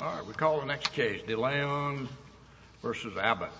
All right, we'll call the next case, DeLeon v. Abbott. DeLeon v. Greg Abbott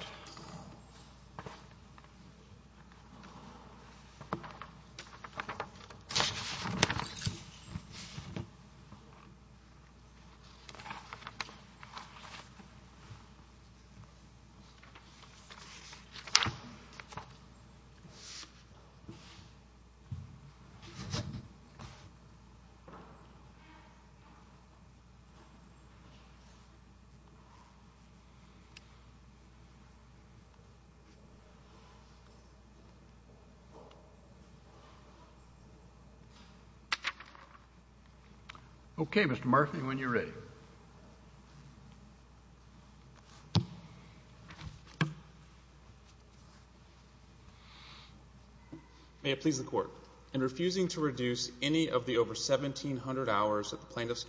May it please the Court, in refusing to reduce any of the over 1,700 hours that the Plaintiffs'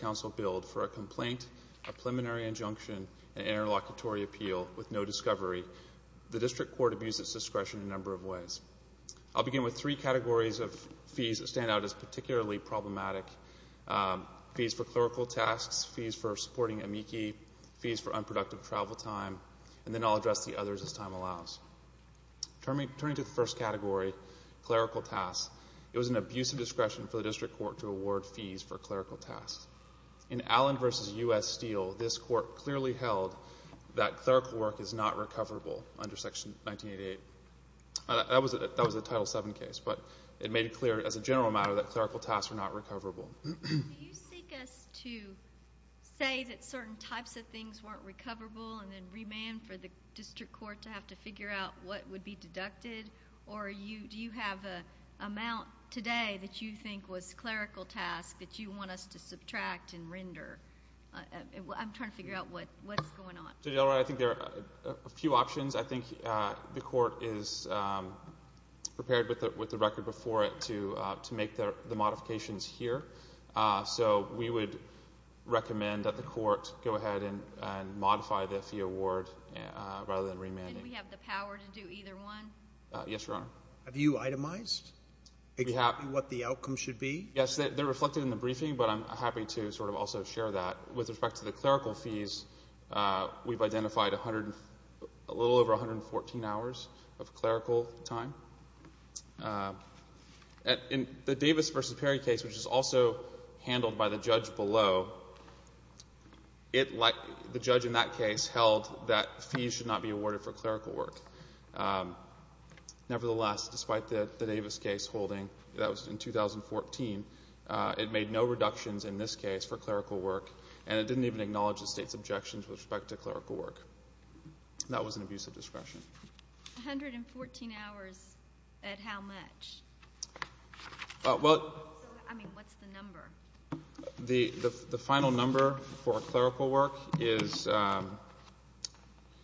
District Court abused its discretion in a number of ways. I'll begin with three categories of fees that stand out as particularly problematic. Fees for clerical tasks, fees for supporting amici, fees for unproductive travel time, and then I'll address the others as time allows. Turning to the first category, clerical tasks, it was an abuse of discretion for the District Court to award fees for clerical tasks. In Allen v. U.S. Steele, this Court clearly held that clerical work is not recoverable under Section 1988. That was a Title VII case, but it made it clear as a general matter that clerical tasks were not recoverable. Do you seek us to say that certain types of things weren't recoverable and then remand for the District Court to have to figure out what would be deducted, or do you have an amount today that you think was clerical task that you want us to subtract and render? I'm Mr. Delroy, I think there are a few options. I think the Court is prepared with the record before it to make the modifications here, so we would recommend that the Court go ahead and modify the fee award rather than remanding. And we have the power to do either one? Yes, Your Honor. Have you itemized exactly what the outcome should be? Yes, they're reflected in the briefing, but I'm happy to sort of also share that. With respect to the clerical fees, we've identified a little over 114 hours of clerical time. In the Davis v. Perry case, which is also handled by the judge below, the judge in that case held that fees should not be awarded for clerical work. Nevertheless, despite the Davis case holding, that was in 2014, it made no reductions in this case for clerical work, and it didn't even acknowledge the State's objections with respect to clerical work. That was an abuse of discretion. 114 hours at how much? I mean, what's the number? The final number for clerical work is,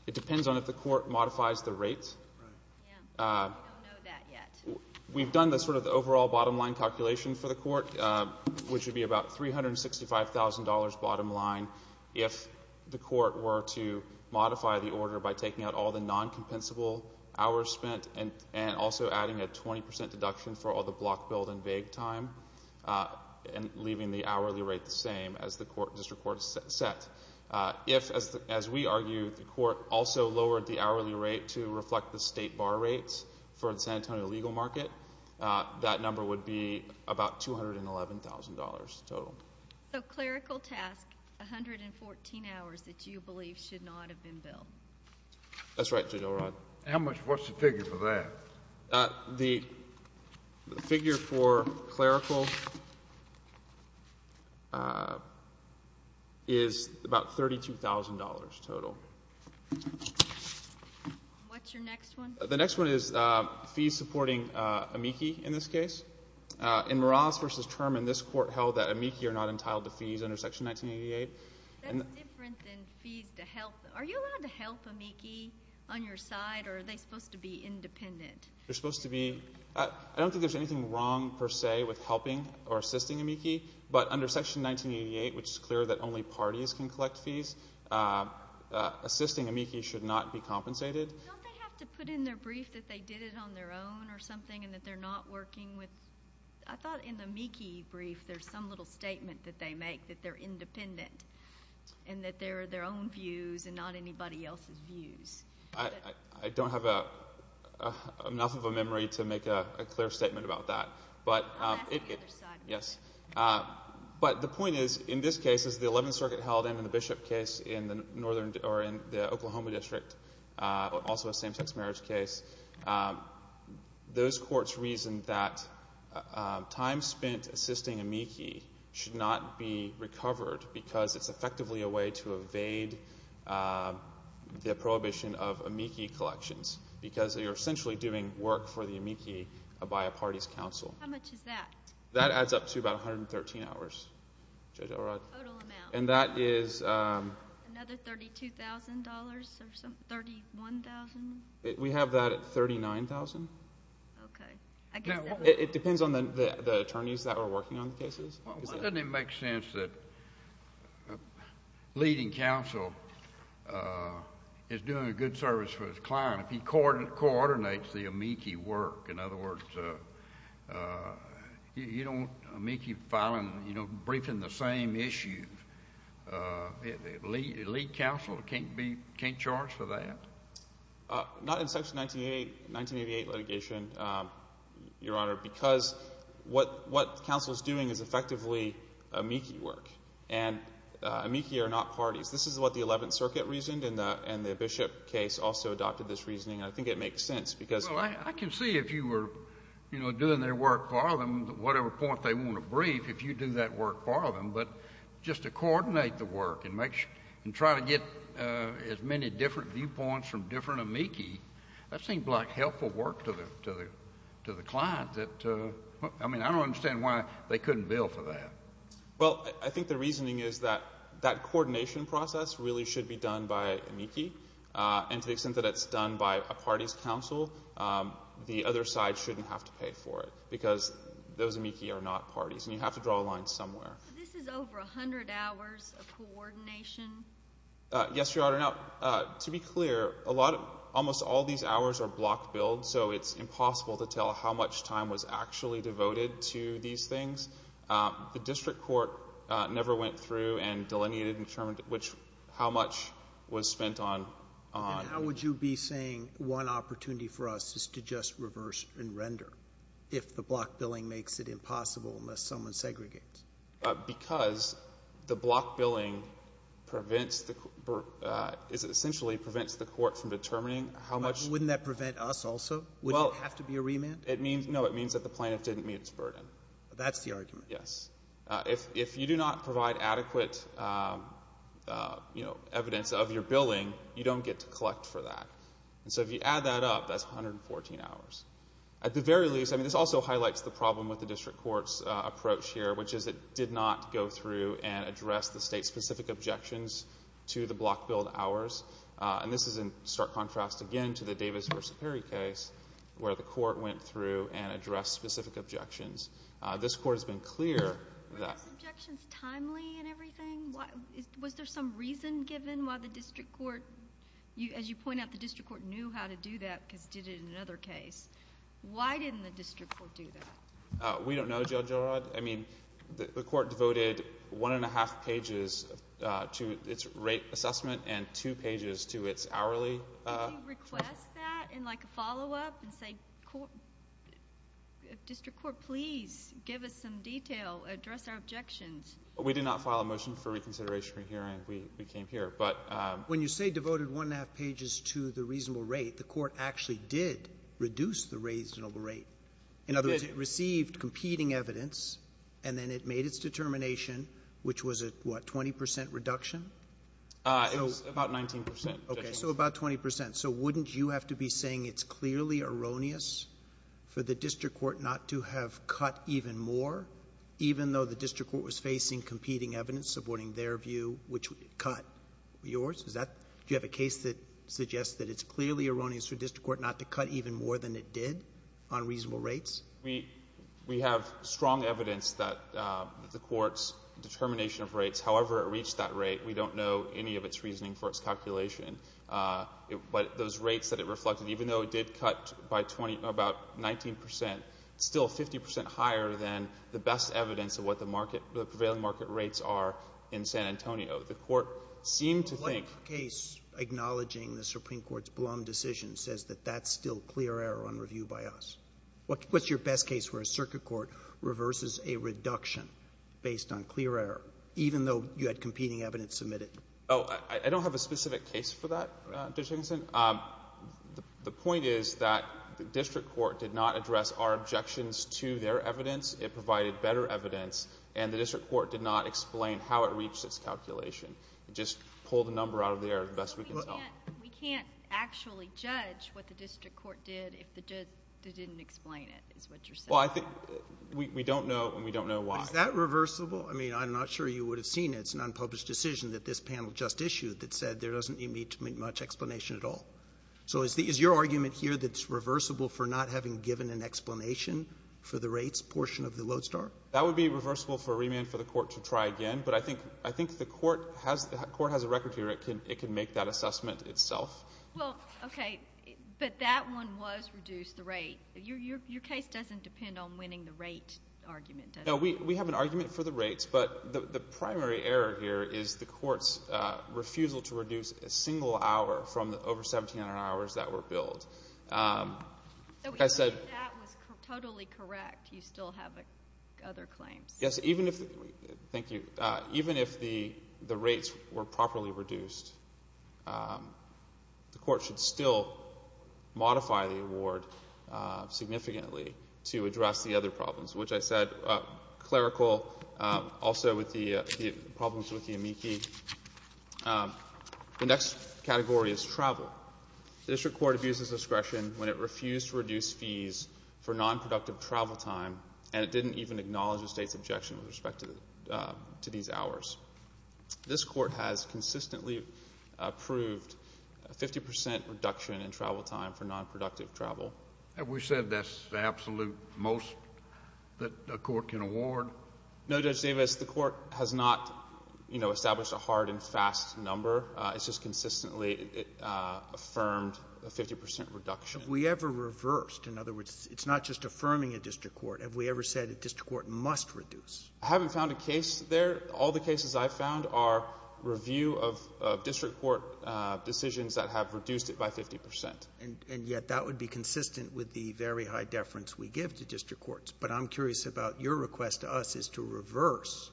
it depends on if the Court modifies the rates. I don't know that yet. We've done the sort of overall bottom line calculation for the Court, which would be about $365,000 bottom line if the Court were to modify the order by taking out all the non-compensable hours spent and also adding a 20% deduction for all the block, build, and vague time, and leaving the hourly rate the same as the District Court set. If, as we argue, the Court also lowered the hourly rate to reflect the State bar rates for the San Antonio legal market, that number would be about $211,000 total. So clerical task, 114 hours that you believe should not have been billed? That's right, Judge O'Rourke. How much, what's the figure for that? The figure for clerical is about $32,000 total. What's your next one? The next one is fees supporting amici in this case. In Morales v. Terman, this Court held that amici are not entitled to fees under Section 1988. That's different than fees to help. Are you allowed to help amici on your side, or are they supposed to be independent? They're supposed to be, I don't think there's anything wrong, per se, with helping or assisting amici, but under Section 1988, which is clear that only parties can collect fees, assisting amici should not be compensated. Don't they have to put in their brief that they did it on their own or something, and that they're not working with, I thought in the amici brief there's some little statement that they make, that they're independent, and that they're their own views and not anybody else's views. I don't have enough of a memory to make a clear statement about that. I'll ask the other side. Yes. But the point is, in this case, as the Eleventh Circuit held in the Bishop case in the Oklahoma District, also a same-sex marriage case, those courts reasoned that time spent assisting amici should not be recovered because it's effectively a way to evade the prohibition of amici collections, because you're essentially doing work for the amici by a party's counsel. How much is that? That is... Another $32,000 or some... $31,000? We have that at $39,000. Okay. It depends on the attorneys that are working on the cases. Doesn't it make sense that a leading counsel is doing a good service for his client if he coordinates the amici work? In other words, you don't... amici filing... briefing the same issues. A lead counsel can't be... can't charge for that? Not in Section 1988 litigation, Your Honor, because what counsel is doing is effectively amici work, and amici are not parties. This is what the Eleventh Circuit reasoned, and the Bishop case also adopted this reasoning, and I think it makes sense because... Well, I can see if you were doing their work for them, whatever point they want to brief, if you do that work for them, but just to coordinate the work and try to get as many different viewpoints from different amici, that seems like helpful work to the client. I mean, I don't understand why they couldn't bill for that. Well, I think the reasoning is that that coordination process really should be done by amici, and to the other side shouldn't have to pay for it, because those amici are not parties, and you have to draw a line somewhere. This is over a hundred hours of coordination? Yes, Your Honor. Now, to be clear, a lot of... almost all these hours are block billed, so it's impossible to tell how much time was actually devoted to these things. The District Court never went through and delineated and determined which... how much was spent on... And how would you be saying one opportunity for us is to just reverse and render, if the block billing makes it impossible unless someone segregates? Because the block billing prevents the... essentially prevents the court from determining how much... Wouldn't that prevent us also? Wouldn't it have to be a remand? No, it means that the plaintiff didn't meet its burden. That's the argument? Yes. If you do not provide adequate evidence of your billing, you don't get to collect for that. So, if you add that up, that's 114 hours. At the very least, this also highlights the problem with the District Court's approach here, which is it did not go through and address the state-specific objections to the block billed hours. And this is in stark contrast, again, to the Davis v. Perry case, where the court went through and addressed specific objections. This Court has been clear that... Weren't those objections timely and everything? Was there some reason given why the District Court... As you point out, the District Court knew how to do that because it did it in another case. Why didn't the District Court do that? We don't know, Judge Elrod. I mean, the Court devoted one and a half pages to its rate assessment and two pages to its hourly... Did you request that in like a follow-up and say, District Court, please give us some detail, address our objections? We did not file a motion for reconsideration from here, and we came here. But... When you say devoted one and a half pages to the reasonable rate, the Court actually did reduce the reasonable rate. In other words, it received competing evidence, and then it made its determination, which was a, what, 20 percent reduction? It was about 19 percent. Okay. So, about 20 percent. So, wouldn't you have to be saying it's clearly erroneous for the District Court not to have cut even more, even though the District Court was facing competing evidence, supporting their view, which cut yours? Is that... Do you have a case that suggests that it's clearly erroneous for the District Court not to cut even more than it did on reasonable rates? We have strong evidence that the Court's determination of rates, however it reached that rate, we don't know any of its reasoning for its calculation. But those rates that it reflected, even though it did cut by 20... about 19 percent, still 50 percent higher than the best evidence of what the market... the prevailing market rates are in San Antonio. The Court seemed to think... What case acknowledging the Supreme Court's blunt decision says that that's still clear error on review by us? What's your best case where a circuit court reverses a reduction based on clear error, even though you had competing evidence submitted? Oh, I don't have a specific case for that, Judge Higginson. The point is that the District Court did not address our objections to their evidence. It provided better evidence, and the District Court did not explain how it reached its calculation. It just pulled a number out of the air, the best we can tell. We can't actually judge what the District Court did if they didn't explain it, is what you're saying. Well, I think... we don't know, and we don't know why. Is that reversible? I mean, I'm not sure you would have seen it. It's an unpublished decision that this panel just issued that said there doesn't need to be much explanation at all. So is your argument here that it's reversible for not having given an explanation for the rates portion of the Lodestar? That would be reversible for a remand for the Court to try again, but I think the Court has a record here. It can make that assessment itself. Well, okay, but that one was reduce the rate. Your case doesn't depend on winning the rate argument, does it? No, we have an argument for the rates, but the primary error here is the Court's refusal to reduce a single hour from the over 1,700 hours that were billed. So even if that was totally correct, you still have other claims? Yes, even if... thank you. Even if the rates were properly reduced, the Court should still modify the award significantly to address the other problems, which I said, clerical, also with the problems with the amici. The next category is travel. The District Court abuses discretion when it refused to reduce fees for nonproductive travel time, and it didn't even acknowledge the State's objection with respect to these hours. This Court has consistently approved a 50 percent reduction in travel time for nonproductive travel. Have we said that's the absolute most that a Court can award? No, Judge Davis, the Court has not, you know, established a hard and fast number. It's just consistently affirmed a 50 percent reduction. Have we ever reversed? In other words, it's not just affirming a District Court. Have we ever said a District Court must reduce? I haven't found a case there. All the cases I've found are review of District Court decisions that have reduced it by 50 percent. And yet that would be consistent with the very high deference we give to District Courts. But I'm curious about your request to us is to reverse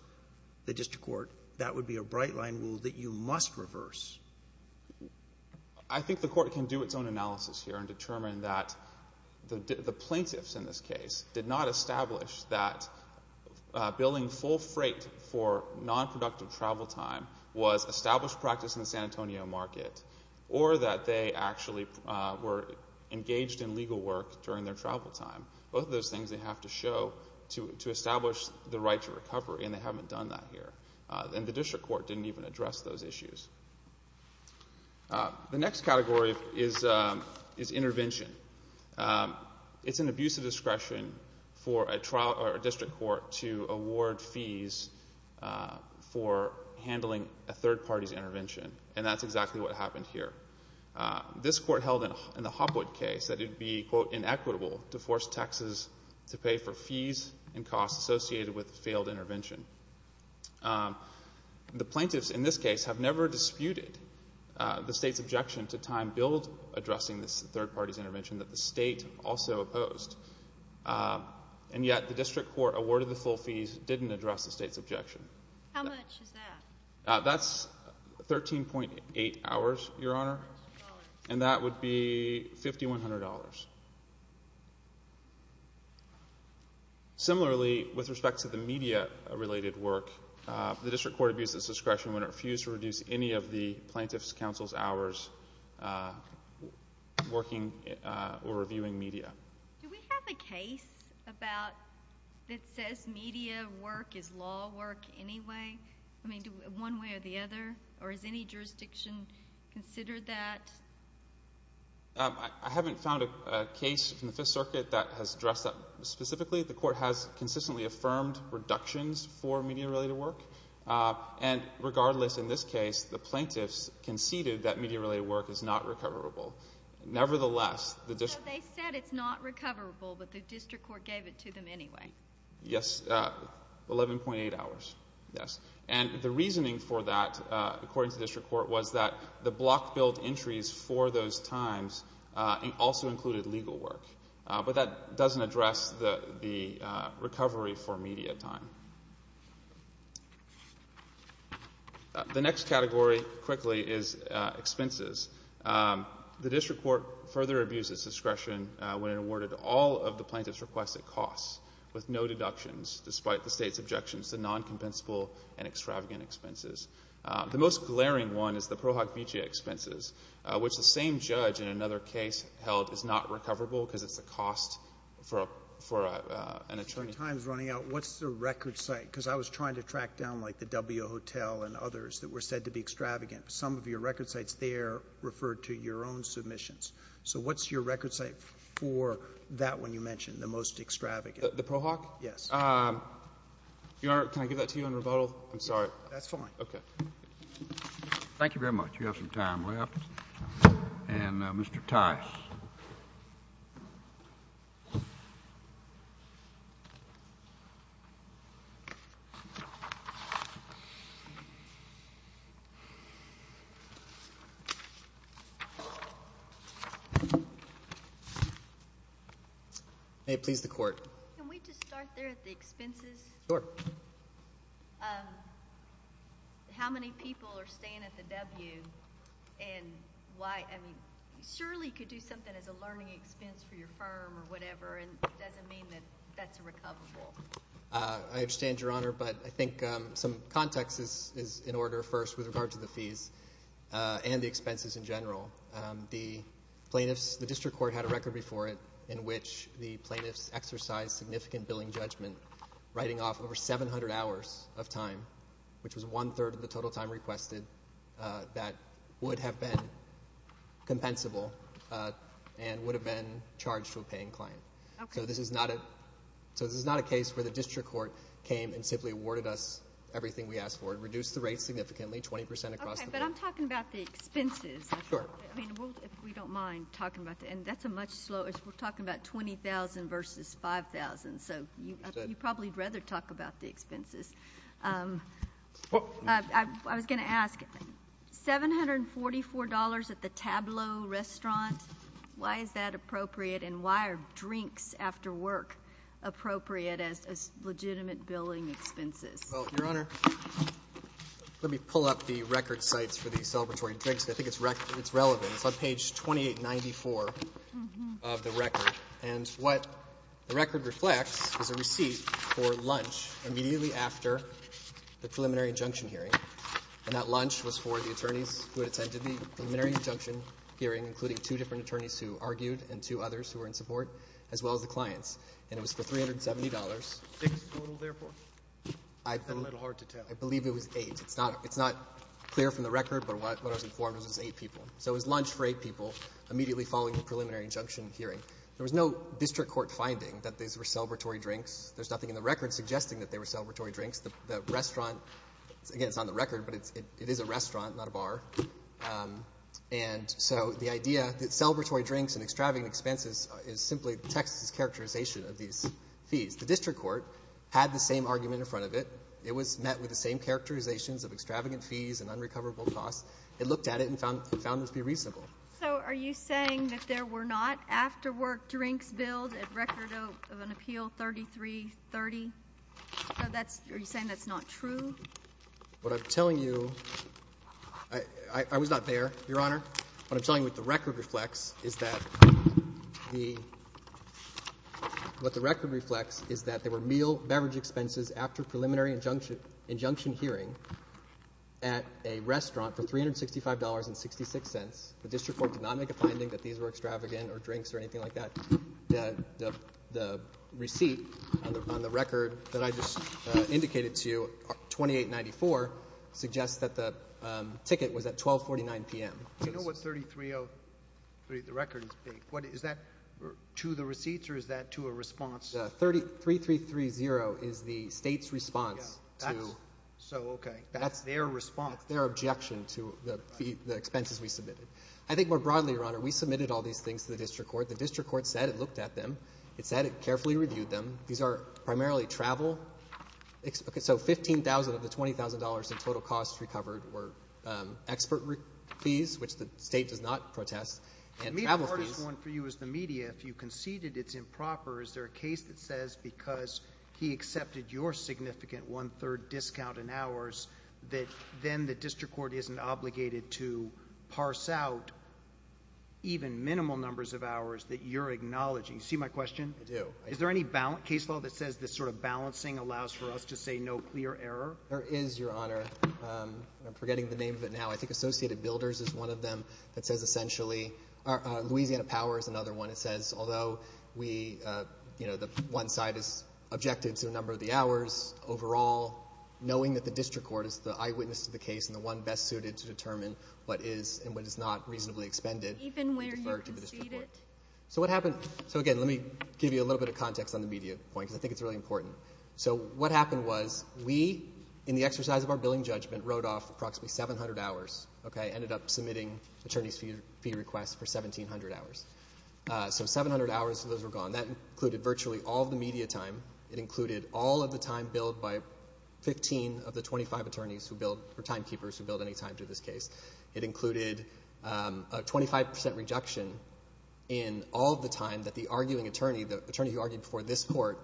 the District Court. That would be a bright line rule that you must reverse. I think the Court can do its own analysis here and determine that the plaintiffs in this case did not establish that billing full freight for nonproductive travel time was established practice in the San Antonio market or that they actually were engaged in legal work during their travel time. Both of those things they have to show to establish the right to recovery, and they haven't done that here. And the District Court didn't even address those issues. The next category is intervention. It's an abuse of discretion for a District Court to address a third party's intervention, and that's exactly what happened here. This Court held in the Hopwood case that it would be, quote, inequitable to force taxes to pay for fees and costs associated with failed intervention. The plaintiffs in this case have never disputed the State's objection to time billed addressing this third party's intervention that the State also opposed. And yet the District Court awarded the full fees, didn't address the State's objection. How much is that? That's 13.8 hours, Your Honor, and that would be $5,100. Similarly, with respect to the media-related work, the District Court abused its discretion when it refused to reduce any of the plaintiff's counsel's hours working or reviewing media. Do we have a case about, that says media work is law work anyway? I mean, do we have a case one way or the other, or is any jurisdiction considered that? I haven't found a case from the Fifth Circuit that has addressed that specifically. The Court has consistently affirmed reductions for media-related work. And regardless, in this case, the plaintiffs conceded that media-related work is not recoverable. Nevertheless, the District Court... So they said it's not recoverable, but the District Court gave it to them anyway. Yes, 11.8 hours, yes. And the reasoning for that, according to the District Court, was that the block billed entries for those times also included legal work. But that doesn't address the recovery for media time. The next category, quickly, is expenses. The District Court further abused its discretion when it awarded all of the plaintiff's requests at cost, with no deductions, despite the State's objections to non-compensable and extravagant expenses. The most glaring one is the Pro Hoc Mutea expenses, which the same judge in another case held is not recoverable because it's the cost for an attorney... For Times Running Out, what's the record site? Because I was trying to track down, like, the W Hotel and others that were said to be extravagant. Some of your record sites there referred to your own submissions. So what's your record site for that one you mentioned, the most extravagant? The Pro Hoc? Yes. Your Honor, can I give that to you on rebuttal? I'm sorry. That's fine. Okay. Thank you very much. You have some time left. And Mr. Tice. May it please the Court. Can we just start there at the expenses? Sure. How many people are staying at the W and why? I mean, surely you could do something as a learning expense for your firm or whatever, and it doesn't mean that that's a recoverable. I understand, Your Honor, but I think some context is in order first with regard to the in general. The plaintiffs, the district court had a record before it in which the plaintiffs exercised significant billing judgment writing off over 700 hours of time, which was one-third of the total time requested, that would have been compensable and would have been charged to a paying client. Okay. So this is not a case where the district court came and simply awarded us everything we asked Okay, but I'm talking about the expenses. Sure. I mean, if we don't mind talking about that, and that's a much slower, we're talking about $20,000 versus $5,000, so you probably would rather talk about the expenses. I was going to ask, $744 at the Tableau restaurant, why is that appropriate and why are drinks after work appropriate as legitimate billing expenses? Well, Your Honor, let me pull up the record sites for the celebratory drinks. I think it's relevant. It's on page 2894 of the record, and what the record reflects is a receipt for lunch immediately after the preliminary injunction hearing, and that lunch was for the attorneys who attended the preliminary injunction hearing, including two different attorneys who argued and two others who were in support, as well as the clients, and it was for $370. Six total, therefore? That's a little hard to tell. I believe it was eight. It's not clear from the record, but what I was informed was it was eight people. So it was lunch for eight people immediately following the preliminary injunction hearing. There was no district court finding that these were celebratory drinks. There's nothing in the record suggesting that they were celebratory drinks. The restaurant, again, it's on the record, but it is a restaurant, not a bar, and so the idea that celebratory drinks and extravagant expenses is simply Texas's characterization of these fees. The district court had the same argument in front of it. It was met with the same characterizations of extravagant fees and unrecoverable costs. It looked at it and found this to be reasonable. So are you saying that there were not after-work drinks billed at record of an appeal 3330? Are you saying that's not true? What I'm telling you, I was not there, Your Honor. What I'm telling you what the record reflects is that there were meal beverage expenses after preliminary injunction hearing at a restaurant for $365.66. The district court did not make a finding that these were extravagant or drinks or anything like that. The receipt on the record that I just indicated to you, 2894, suggests that the ticket was at 1249 p.m. Do you know what 3303, the record, is? Is that to the receipts or is that to a response? 3330 is the state's response. So, okay. That's their response. That's their objection to the expenses we submitted. I think more broadly, Your Honor, we submitted all these things to the district court. The district court said it looked at them. It said it carefully reviewed them. These are primarily travel. So, $15,000 of the $20,000 in total costs recovered were expert fees, which the state does not protest, and travel fees. The main part is one for you is the media. If you conceded it's improper, is there a case that says because he accepted your significant one-third discount in hours that then the district court isn't obligated to parse out even minimal numbers of hours that you're acknowledging? Do you see my question? I do. Is there any case law that says this sort of balancing allows for us to say no clear error? There is, Your Honor. I'm forgetting the name of it now. I think Associated Builders is one of them that says essentially. Louisiana Power is another one that says although we, you know, the one side is objective to a number of the hours, overall, knowing that the district court is the eyewitness to the case and the one best suited to determine what is and what is not reasonably expended. Even where you conceded? So what happened? So again, let me give you a little bit of context on the media point because I think it's really important. So what happened was we, in the exercise of our billing judgment, wrote off approximately 700 hours, okay? Ended up submitting attorney's fee requests for 1,700 hours. So 700 hours of those were gone. That included virtually all of the media time. It included all of the time billed by 15 of the 25 attorneys who billed, or timekeepers who billed any time to this case. It included a 25% rejection in all of the time that the arguing attorney, the attorney who argued before this court,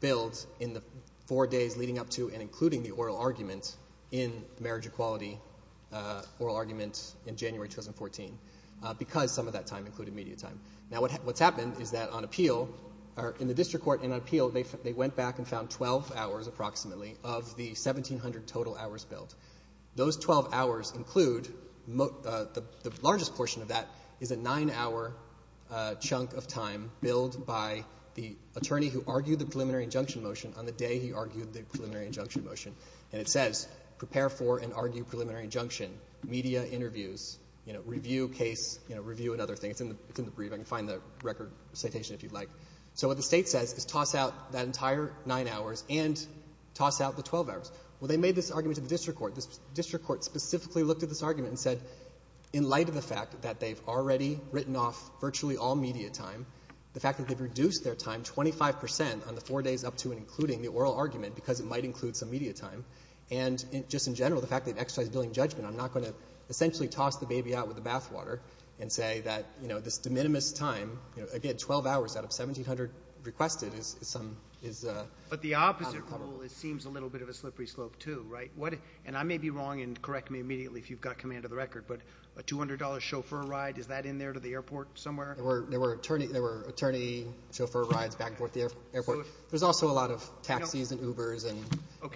billed in the four days leading up to and including the oral argument in the marriage equality oral argument in January 2014 because some of that time included media time. Now what's happened is that on appeal, or in the district court and on appeal, they went back and found 12 hours approximately of the 1,700 total hours billed. Those 12 hours include, the largest portion of that is a nine-hour chunk of time billed by the attorney who argued the preliminary injunction motion on the day he argued the preliminary injunction motion. And it says, prepare for and argue preliminary injunction, media interviews, review case, review another thing. It's in the brief. You can find the record citation if you'd like. So what the state says is toss out that entire nine hours and toss out the 12 hours. Well, they made this argument to the district court. The district court specifically looked at this argument and said, in light of the fact that they've already written off virtually all media time, the fact that they've reduced their time 25% on the four days up to and including the oral argument because it might include some media time, and just in general, the fact that they've exercised billing judgment, I'm not going to essentially toss the baby out with the bathwater and say that, you know, this de minimis time, again, 12 hours out of 1,700 requested is some, is a problem. Well, it seems a little bit of a slippery slope too, right? And I may be wrong, and correct me immediately if you've got command of the record, but a $200 chauffeur ride, is that in there to the airport somewhere? There were attorney chauffeur rides back and forth to the airport. There's also a lot of taxis and Ubers and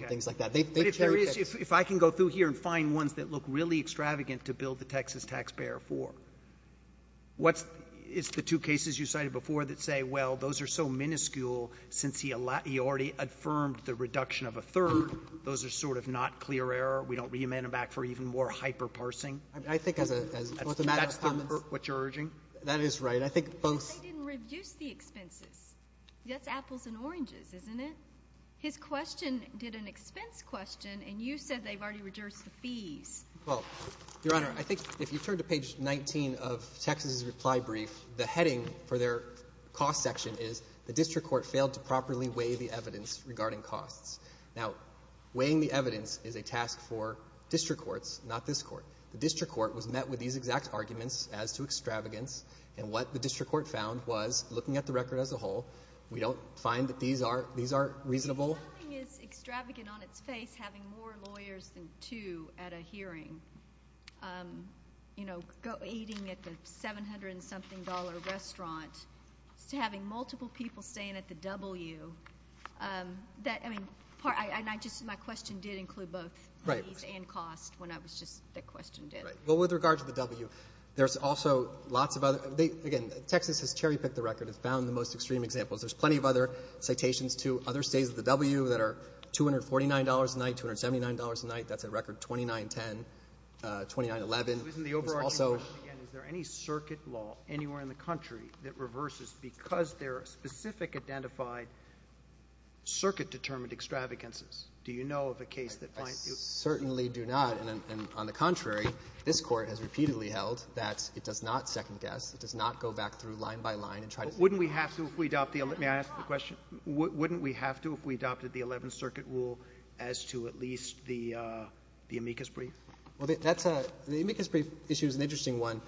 things like that. But if I can go through here and find ones that look really extravagant to bill the Texas taxpayer for, it's the two cases you cited before that say, well, those are so miniscule since he already affirmed the reduction of a third. Those are sort of not clear error. We don't re-amend them back for even more hyper-parsing. I think as a matter of comments. That's what you're urging? That is right. I think both. But they didn't reduce the expenses. That's apples and oranges, isn't it? His question did an expense question, and you said they've already reduced the fees. Well, Your Honor, I think if you turn to page 19 of Texas's reply brief, the heading for their cost section is, the district court failed to properly weigh the evidence regarding costs. Now, weighing the evidence is a task for district courts, not this court. The district court was met with these exact arguments as to extravagance, and what the district court found was, looking at the record as a whole, we don't find that these are reasonable. Something is extravagant on its face, having more lawyers than two at a hearing. You know, eating at the $700-something restaurant. Having multiple people staying at the W. My question did include both fees and costs. When I was just, that question did. Well, with regard to the W, there's also lots of other, again, Texas has cherry-picked the record. It's found the most extreme examples. There's plenty of other citations to other stays at the W that are $249 a night, $279 a night. That's a record $29.10. $29.11. Isn't the overarching question, again, is there any circuit law anywhere in the country that reverses because there are specific identified circuit-determined extravagances? Do you know of a case that finds... I certainly do not, and on the contrary, this court has repeatedly held that it does not second-guess. It does not go back through line by line and try to... Wouldn't we have to if we adopted... May I ask the question? Wouldn't we have to if we adopted the 11th Circuit rule as to at least the amicus brief? Well, the amicus brief issue is an interesting one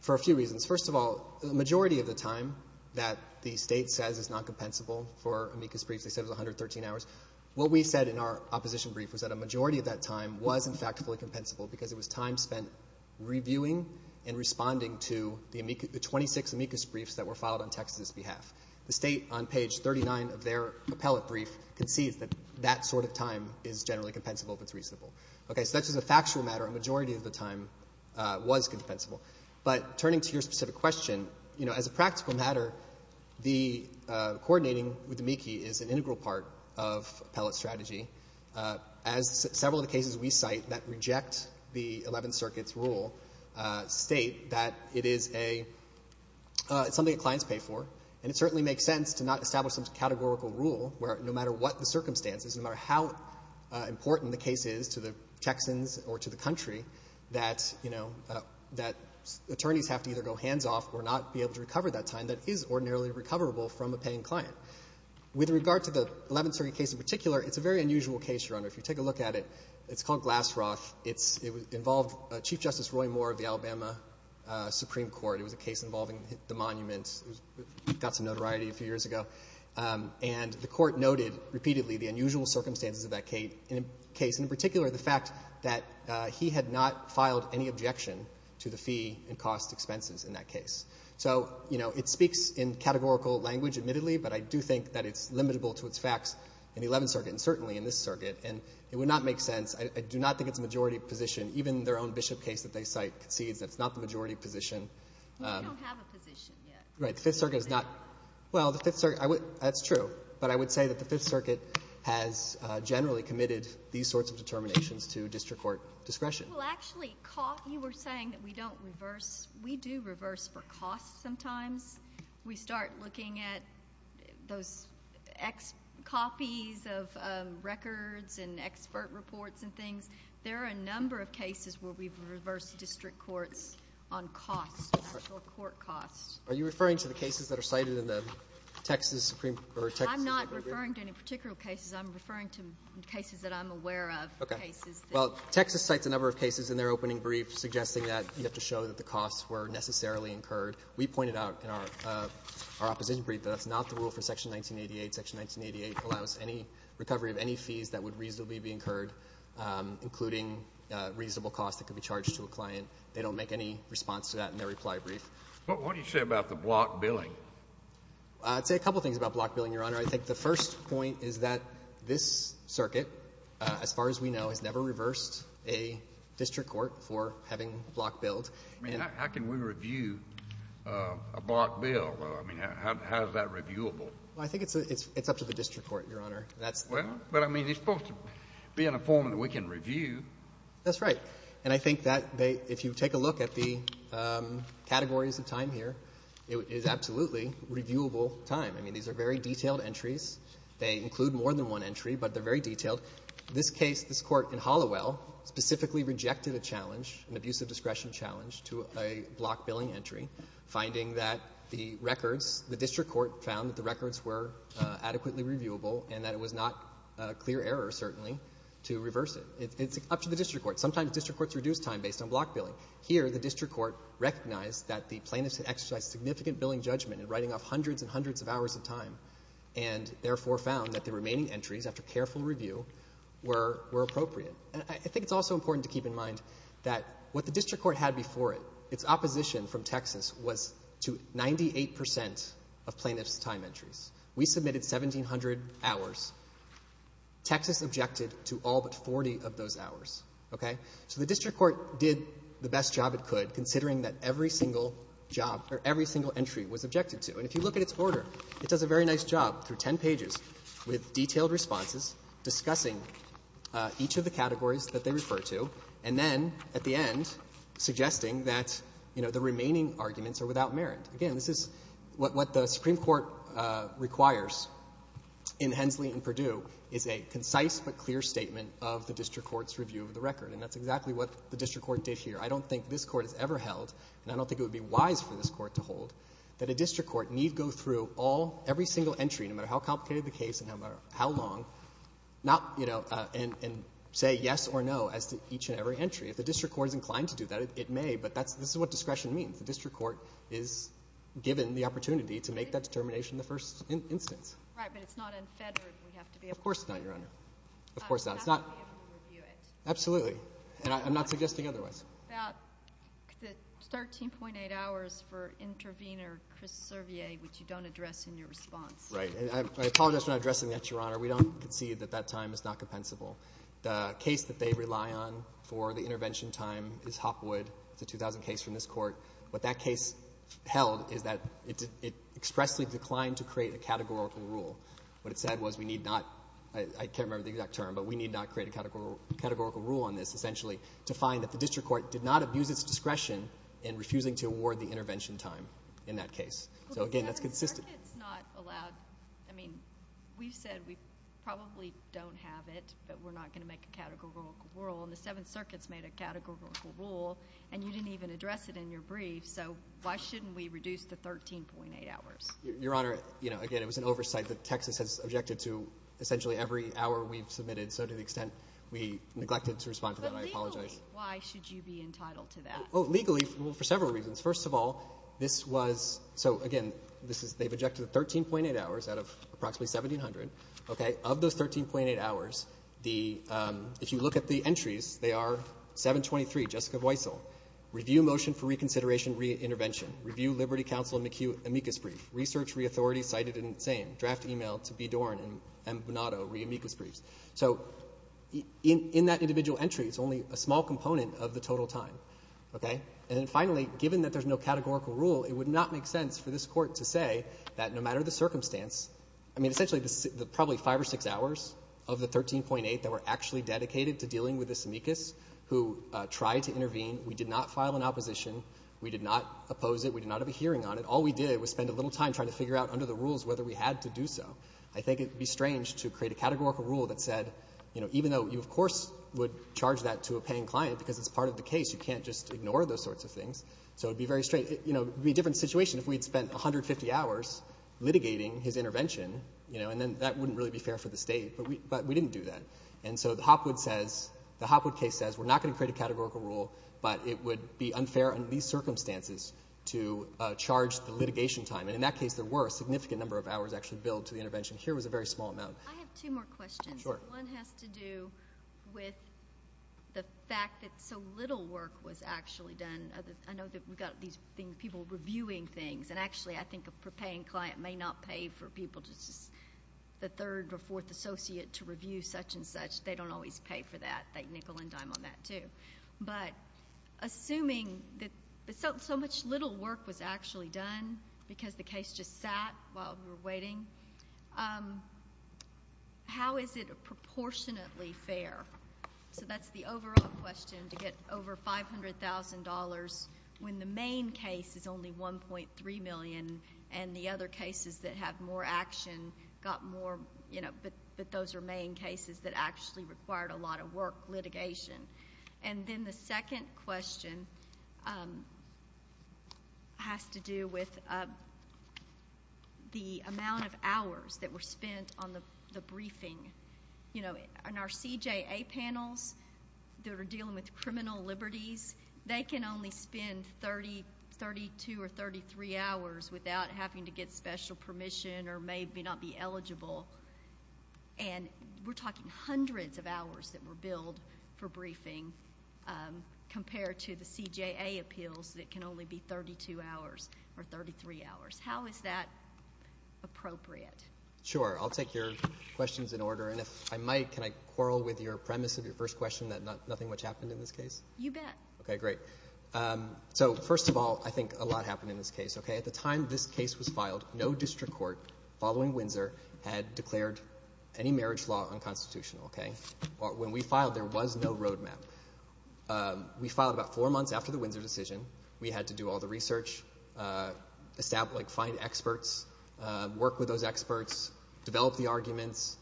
for a few reasons. First of all, the majority of the time that the state says is not compensable for amicus briefs, they said it was 113 hours, what we said in our opposition brief was that a majority of that time was, in fact, fully compensable because it was time spent reviewing and responding to the 26 amicus briefs that were filed on Texas's behalf. The state, on page 39 of their appellate brief, concedes that that sort of time is generally compensable if it's reasonable. So that's just a factual matter. A majority of the time was compensable. But turning to your specific question, as a practical matter, coordinating with the MICI is an integral part of appellate strategy. As several of the cases we cite that reject the 11th Circuit's rule state that it is a... It's something that clients pay for and it certainly makes sense to not establish some categorical rule where no matter what the circumstances, no matter how important the case is to the Texans or to the country, that, you know, that attorneys have to either go hands off or not be able to recover that time that is ordinarily recoverable from a paying client. With regard to the 11th Circuit case in particular, it's a very unusual case, Your Honor. If you take a look at it, it's called Glassroth. It involved Chief Justice Roy Moore of the Alabama Supreme Court. It was a case involving the monument. It got some notoriety a few years ago. And the court noted repeatedly the unusual circumstances of that case, in particular the fact that he had not filed any objection to the fee and cost expenses in that case. So, you know, it speaks in categorical language, admittedly, but I do think that it's limitable to its facts in the 11th Circuit and certainly in this circuit. And it would not make sense. I do not think it's a majority position. Even their own Bishop case that they cite concedes that it's not the majority position. We don't have a position yet. Right. The Fifth Circuit is not... Well, that's true, but I would say that the Fifth Circuit has generally committed these sorts of determinations to district court discretion. Well, actually, you were saying that we don't reverse. We do reverse for costs sometimes. We start looking at those copies of records and expert reports and things. There are a number of cases where we've reversed district courts on costs, actual court costs. Are you referring to the cases that are cited in the Texas Supreme... I'm not referring to any particular cases. I'm referring to cases that I'm aware of. Well, Texas cites a number of cases in their opening brief suggesting that you have to show that the costs were necessarily incurred. We pointed out in our opposition brief that that's not the rule for Section 1988. Section 1988 allows any recovery of any fees that would reasonably be incurred, including reasonable costs that could be charged to a client. They don't make any response to that in their reply brief. What do you say about the block billing? I'd say a couple things about block billing, Your Honor. I think the first point is that this circuit, as far as we know, has never reversed a district court for having block billed. I mean, how can we review a block bill? I mean, how is that reviewable? I think it's up to the district court, Your Honor. Well, I mean, it's supposed to be in a form that we can review. That's right. And I think that if you take a look at the categories of time here, it is absolutely reviewable time. I mean, these are very detailed entries. They include more than one entry, but they're very detailed. In this case, this Court in Halliwell specifically rejected a challenge, an abusive discretion challenge, to a block billing entry, finding that the records, the district court found that the records were adequately reviewable, and that it was not a clear error, certainly, to reverse it. It's up to the district court. Sometimes district courts reduce time based on block billing. Here, the district court recognized that the plaintiffs had exercised significant billing judgment in writing off hundreds and hundreds of hours of time, and therefore found that the remaining entries, after careful review, were appropriate. And I think it's also important to keep in mind that what the district court had before it, its opposition from Texas was to 98 percent of plaintiffs' time entries. We submitted 1,700 hours. Texas objected to all but 40 of those hours. Okay? So the district court did the best job it could, considering that every single job, or every single entry was objected to. And if you look at its order, it does a very nice job, through 10 pages, with detailed responses, discussing each of the categories that they refer to, and then at the end, suggesting that the remaining arguments are without merit. Again, this is what the Supreme Court requires in Hensley and Perdue, is a concise but clear statement of the district court's review of the record. And that's exactly what the district court did here. I don't think this court has ever held, and I don't think it would be wise for this court to hold, that a district court need go through every single entry, no matter how complicated the case and no matter how long, and say yes or no as to each and every entry. If the district court is inclined to do that, it may, but this is what discretion means. The district court is given the opportunity to make that determination in the first instance. Right, but it's not unfettered, we have to be able to review it. Of course not, Your Honor. Absolutely. And I'm not suggesting otherwise. About the 13.8 hours for intervener Chris Servier, which you don't address in your response. Right. And I apologize for not addressing that, Your Honor. We don't concede that that time is not compensable. The case that they rely on for the intervention time is Hopwood. It's a 2000 case from this court. What that case held is that it expressly declined to create a categorical rule. What it said was we need not, I can't remember the exact term, but we need not create a categorical rule on this, essentially, to find that the district court did not abuse its discretion in refusing to award the intervention time in that case. So, again, that's consistent. I mean, we've said we probably don't have it, but we're not going to make a categorical rule, and the Seventh Circuit's made a categorical rule, and you didn't even address it in your brief, so why shouldn't we reduce the 13.8 hours? Your Honor, again, it was an oversight that Texas has objected to, essentially, every hour we've submitted, so to the extent we neglected to respond to that, I apologize. But legally, why should you be entitled to that? Well, legally, for several reasons. First of all, this was, so, again, they've objected to 13.8 hours out of approximately 1,700. Okay? Of those 13.8 hours, the, if you look at the entries, they are 723, Jessica Voisel, review motion for reconsideration re-intervention, review Liberty Council amicus brief, research re-authority cited in the same, draft e-mail to B. Doran and M. Bonato, re-amicus briefs. So, in that individual entry, it's only a small component of the total time. Okay? And then finally, given that there's no categorical rule, it would not make sense for this Court to say that no matter the circumstance, I mean, essentially, the probably five or six hours of the 13.8 that were actually dedicated to dealing with this amicus, who tried to intervene, we did not file an opposition, we did not oppose it, we did not have a hearing on it, all we did was spend a little time trying to figure out under the rules whether we had to do so. I think it would be strange to create a categorical rule that said, you know, even though you, of course, would charge that to a paying client because it's part of the case, you can't just ignore those sorts of things, so it would be very strange. You know, it would be a different situation if we had spent 150 hours litigating his intervention, you know, and then that wouldn't really be fair for the State, but we didn't do that. And so the Hopwood says, the Hopwood case says, we're not going to create a categorical rule, but it would be unfair under these circumstances to charge the litigation time, and in that case, there were a significant number of hours actually billed to the intervention. Here was a very small amount. I have two more questions. Sure. One has to do with the fact that so little work was actually done. I know that we've got these people reviewing things, and actually, I think a paying client may not pay for people just as the third or fourth associate to review such and such. They don't always pay for that. They nickel and dime on that, too. But assuming that so much little work was actually done because the case just sat while we were waiting, how is it proportionately fair? So that's the overall question to get over $500,000 when the main case is only $1.3 million and the other cases that have more action got more, but those are main cases that actually required a lot of work, litigation. And then the second question has to do with the amount of hours that were spent on the briefing. On our CJA panels that are dealing with criminal liberties, they can only spend 32 or 33 hours without having to get special permission or maybe not be eligible. And we're talking hundreds of hours that were billed for briefing compared to the CJA appeals that can only be 32 hours or 33 hours. How is that appropriate? Sure. I'll take your questions in order. And if I might, can I quarrel with your premise of your first question that nothing much happened in this case? You bet. Okay, great. So, first of all, I think a lot happened in this case. At the time this case was filed, no district court following Windsor had declared any marriage law unconstitutional. When we filed, there was no roadmap. We filed about four months after the Windsor decision. We had to do all the research, find experts, work with those experts, develop the arguments.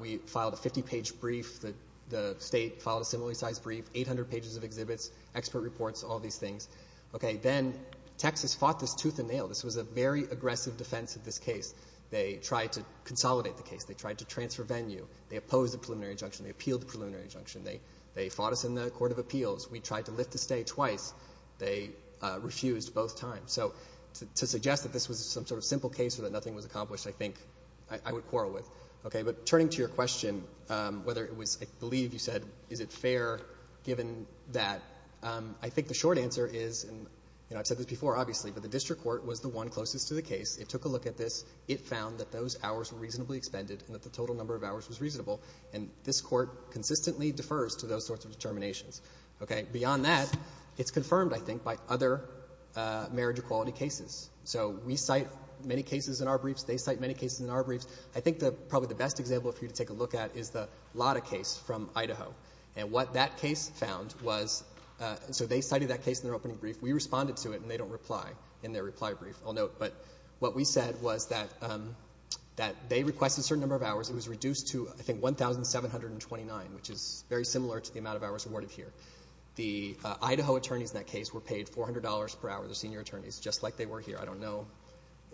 We filed a 50-page brief. The state filed a similarly sized brief, 800 pages of exhibits, expert reports, all these things. Okay, then Texas fought this tooth and nail. This was a very aggressive defense of this case. They tried to consolidate the case. They tried to transfer venue. They opposed the preliminary injunction. They appealed the preliminary injunction. They fought us in the Court of Appeals. We tried to lift the stay twice. They refused both times. So, to suggest that this was some sort of I would quarrel with. Okay, but turning to your question, whether it was, I believe you said, is it fair given that, I think the short answer is, and I've said this before, obviously, but the district court was the one closest to the case. It took a look at this. It found that those hours were reasonably expended and that the total number of hours was reasonable. This court consistently defers to those sorts of determinations. Beyond that, it's confirmed, I think, by other marriage equality cases. We cite many cases in our briefs. I think probably the best example for you to take a look at is the Lotta case from Idaho. And what that case found was so they cited that case in their opening brief. We responded to it and they don't reply in their reply brief. I'll note, but what we said was that they requested a certain number of hours. It was reduced to, I think, 1,729, which is very similar to the amount of hours awarded here. The Idaho attorneys in that case were paid $400 per hour, the senior attorneys, just like they were here. I don't know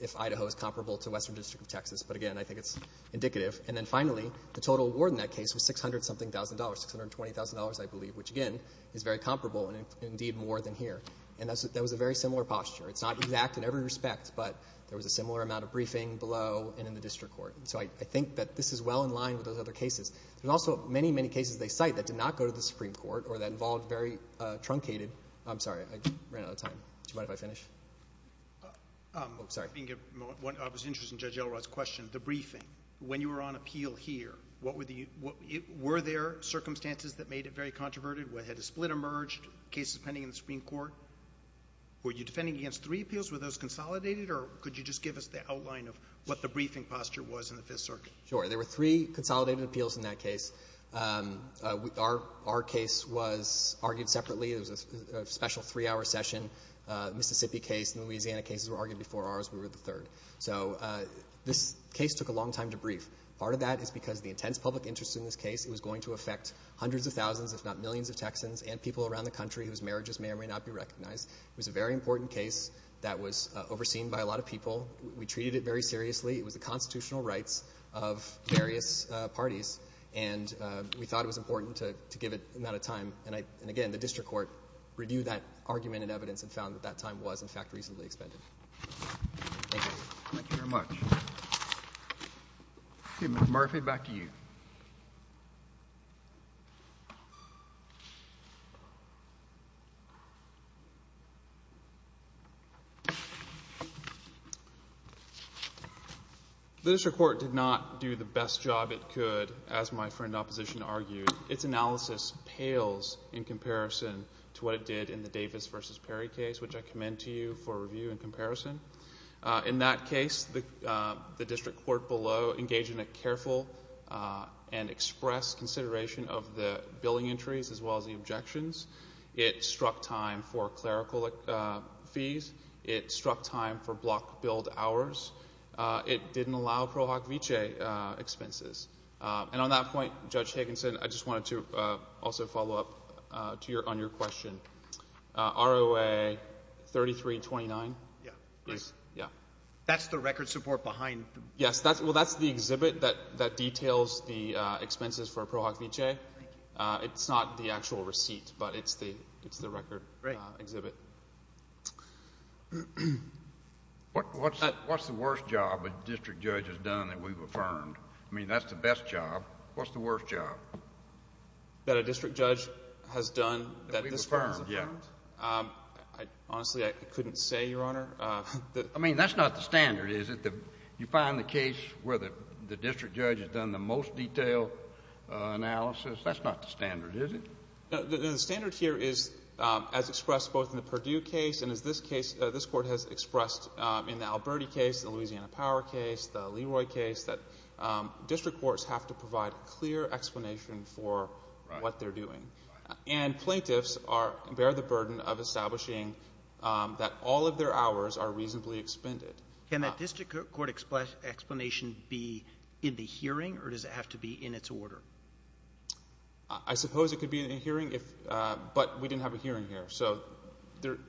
if Idaho is comparable to Western District of Texas, but, again, I think it's indicative. And then finally, the total award in that case was $600 something thousand dollars, $620,000, I believe, which, again, is very comparable and indeed more than here. And that was a very similar posture. It's not exact in every respect, but there was a similar amount of briefing below and in the district court. So I think that this is well in line with those other cases. There's also many, many cases they cite that did not go to the Supreme Court or that involved very truncated... I'm sorry, I ran out of time. Do you mind if I finish? Oh, sorry. I was interested in Judge Elrod's question. The briefing. When you were on appeal here, were there circumstances that made it very controverted? Had a split emerged? Cases pending in the Supreme Court? Were you defending against three appeals? Were those consolidated? Or could you just give us the outline of what the briefing posture was in the Fifth Circuit? Sure. There were three consolidated appeals in that case. Our case was argued separately. It was a special three-hour session. Mississippi case and Louisiana cases were argued before ours. We were the third. So this case took a long time to brief. Part of that is because the intense public interest in this case was going to affect hundreds of thousands, if not millions, of Texans and people around the country whose marriages may or may not be recognized. It was a very important case that was overseen by a lot of people. We treated it very seriously. It was the constitutional rights of various parties and we thought it was important to give it an amount of time. And that argument and evidence had found that that time was, in fact, reasonably expended. Thank you. Thank you very much. Okay. Mr. Murphy, back to you. The district court did not do the best job it could, as my friend in opposition argued. Its analysis pales in comparison to what it did in the Davis v. Perry case, which I commend to you for review and comparison. In that case, the district court below engaged in a careful and express consideration of the billing entries as well as the objections. It struck time for clerical fees. It struck time for block billed hours. It didn't allow Pro Hoc Vitae expenses. And on that point, Judge Higginson, I just wanted to also follow up on your question. ROA 3329. That's the record support behind? Yes. Well, that's the exhibit that details the expenses for Pro Hoc Vitae. It's not the actual receipt, but it's the record exhibit. What's the worst job a district judge has done that we've affirmed? I mean, that's the best job. What's the worst job? That a district judge has done that this firm has affirmed? Honestly, I couldn't say, Your Honor. I mean, that's not the standard, is it? You find the case where the district judge has done the most detailed analysis, that's not the standard, is it? The standard here is as expressed both in the Purdue case and as this court has expressed in the Alberti case, the Louisiana Power case, the Leroy case, that district courts have to provide clear explanation for what they're doing. Plaintiffs bear the burden of establishing that all of their hours are reasonably expended. Can that district court explanation be in the hearing, or does it have to be in its order? I suppose it could be in a hearing, but we didn't have a hearing here, so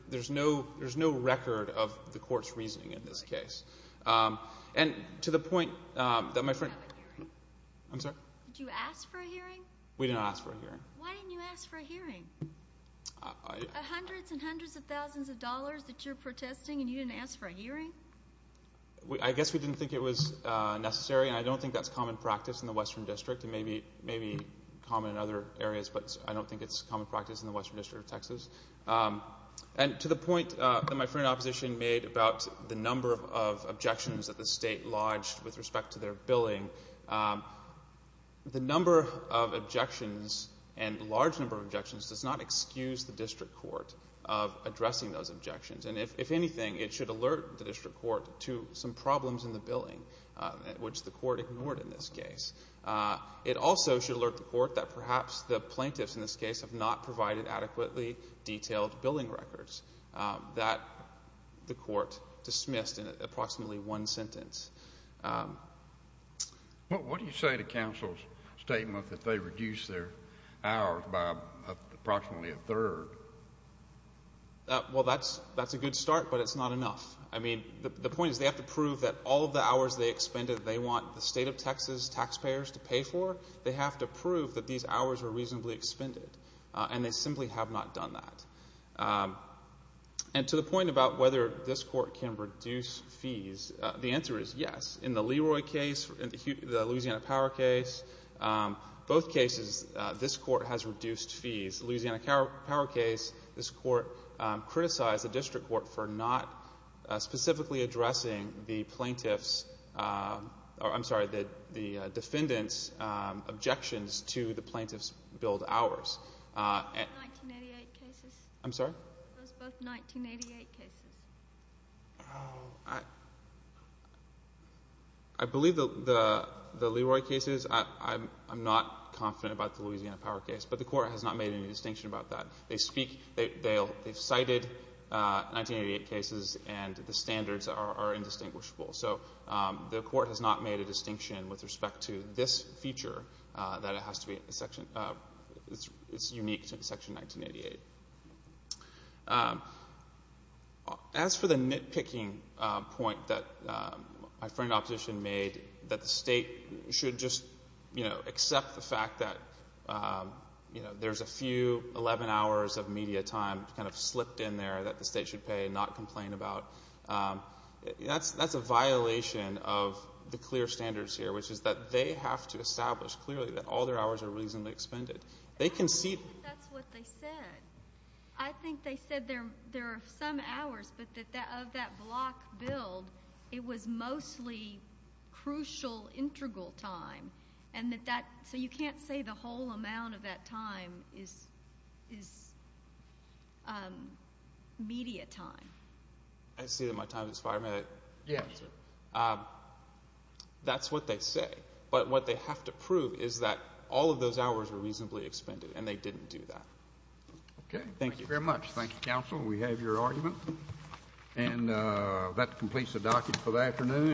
there's no record of the court's reasoning in this case. And to the point that my friend... I'm sorry? Did you ask for a hearing? We didn't ask for a hearing. Why didn't you ask for a hearing? Hundreds and hundreds of thousands of dollars that you're protesting, and you didn't ask for a hearing? I guess we didn't think it was necessary, and I don't think that's common practice in the Western District. It may be common in other areas, but I don't think it's common practice in the Western District of Texas. And to the point that my friend in opposition made about the number of objections that the state lodged with respect to their billing, the number of objections, and large number of objections, does not excuse the district court of addressing those objections. And if anything, it should alert the district court to some problems in the billing, which the court ignored in this case. It also should alert the court that perhaps the plaintiffs in this case have not provided adequately detailed billing records that the court dismissed in approximately one sentence. What do you say to counsel's statement that they reduced their hours by approximately a third? Well, that's a good start, but it's not enough. I mean, the point is they have to prove that all of the hours they expended that they want the state of Texas taxpayers to pay for, they have to prove that these hours were reasonably expended, and they have to prove that. And to the point about whether this court can reduce fees, the answer is yes. In the Leroy case, the Louisiana Power case, both cases, this court has reduced fees. The Louisiana Power case, this court criticized the district court for not specifically addressing I'm sorry, the defendants' objections to the plaintiffs' billed hours. Were those both 1988 cases? I believe the Leroy cases, I'm not confident about the Louisiana Power case, but the court has not made any distinction about that. They cited 1988 cases, and the standards are indistinguishable. So the court has not made a distinction with respect to this feature that it's unique to Section 1988. As for the nitpicking point that my friend, Opposition, made, that the state should just accept the fact that there's a few 11 hours of media time slipped in there that the state should pay and not complain about, that's a violation of the clear standards here, which is that they have to establish clearly that all their hours are reasonably expended. I don't think that's what they said. I think they said there are some hours, but that of that block billed, it was mostly crucial integral time. So you can't say the whole amount of that time is media time. I see that my time has expired. Yes, sir. That's what they say. But what they have to prove is that all of those hours were reasonably expended and they didn't do that. Okay. Thank you very much. Thank you, Counsel. We have your argument. And that completes the docket for the afternoon.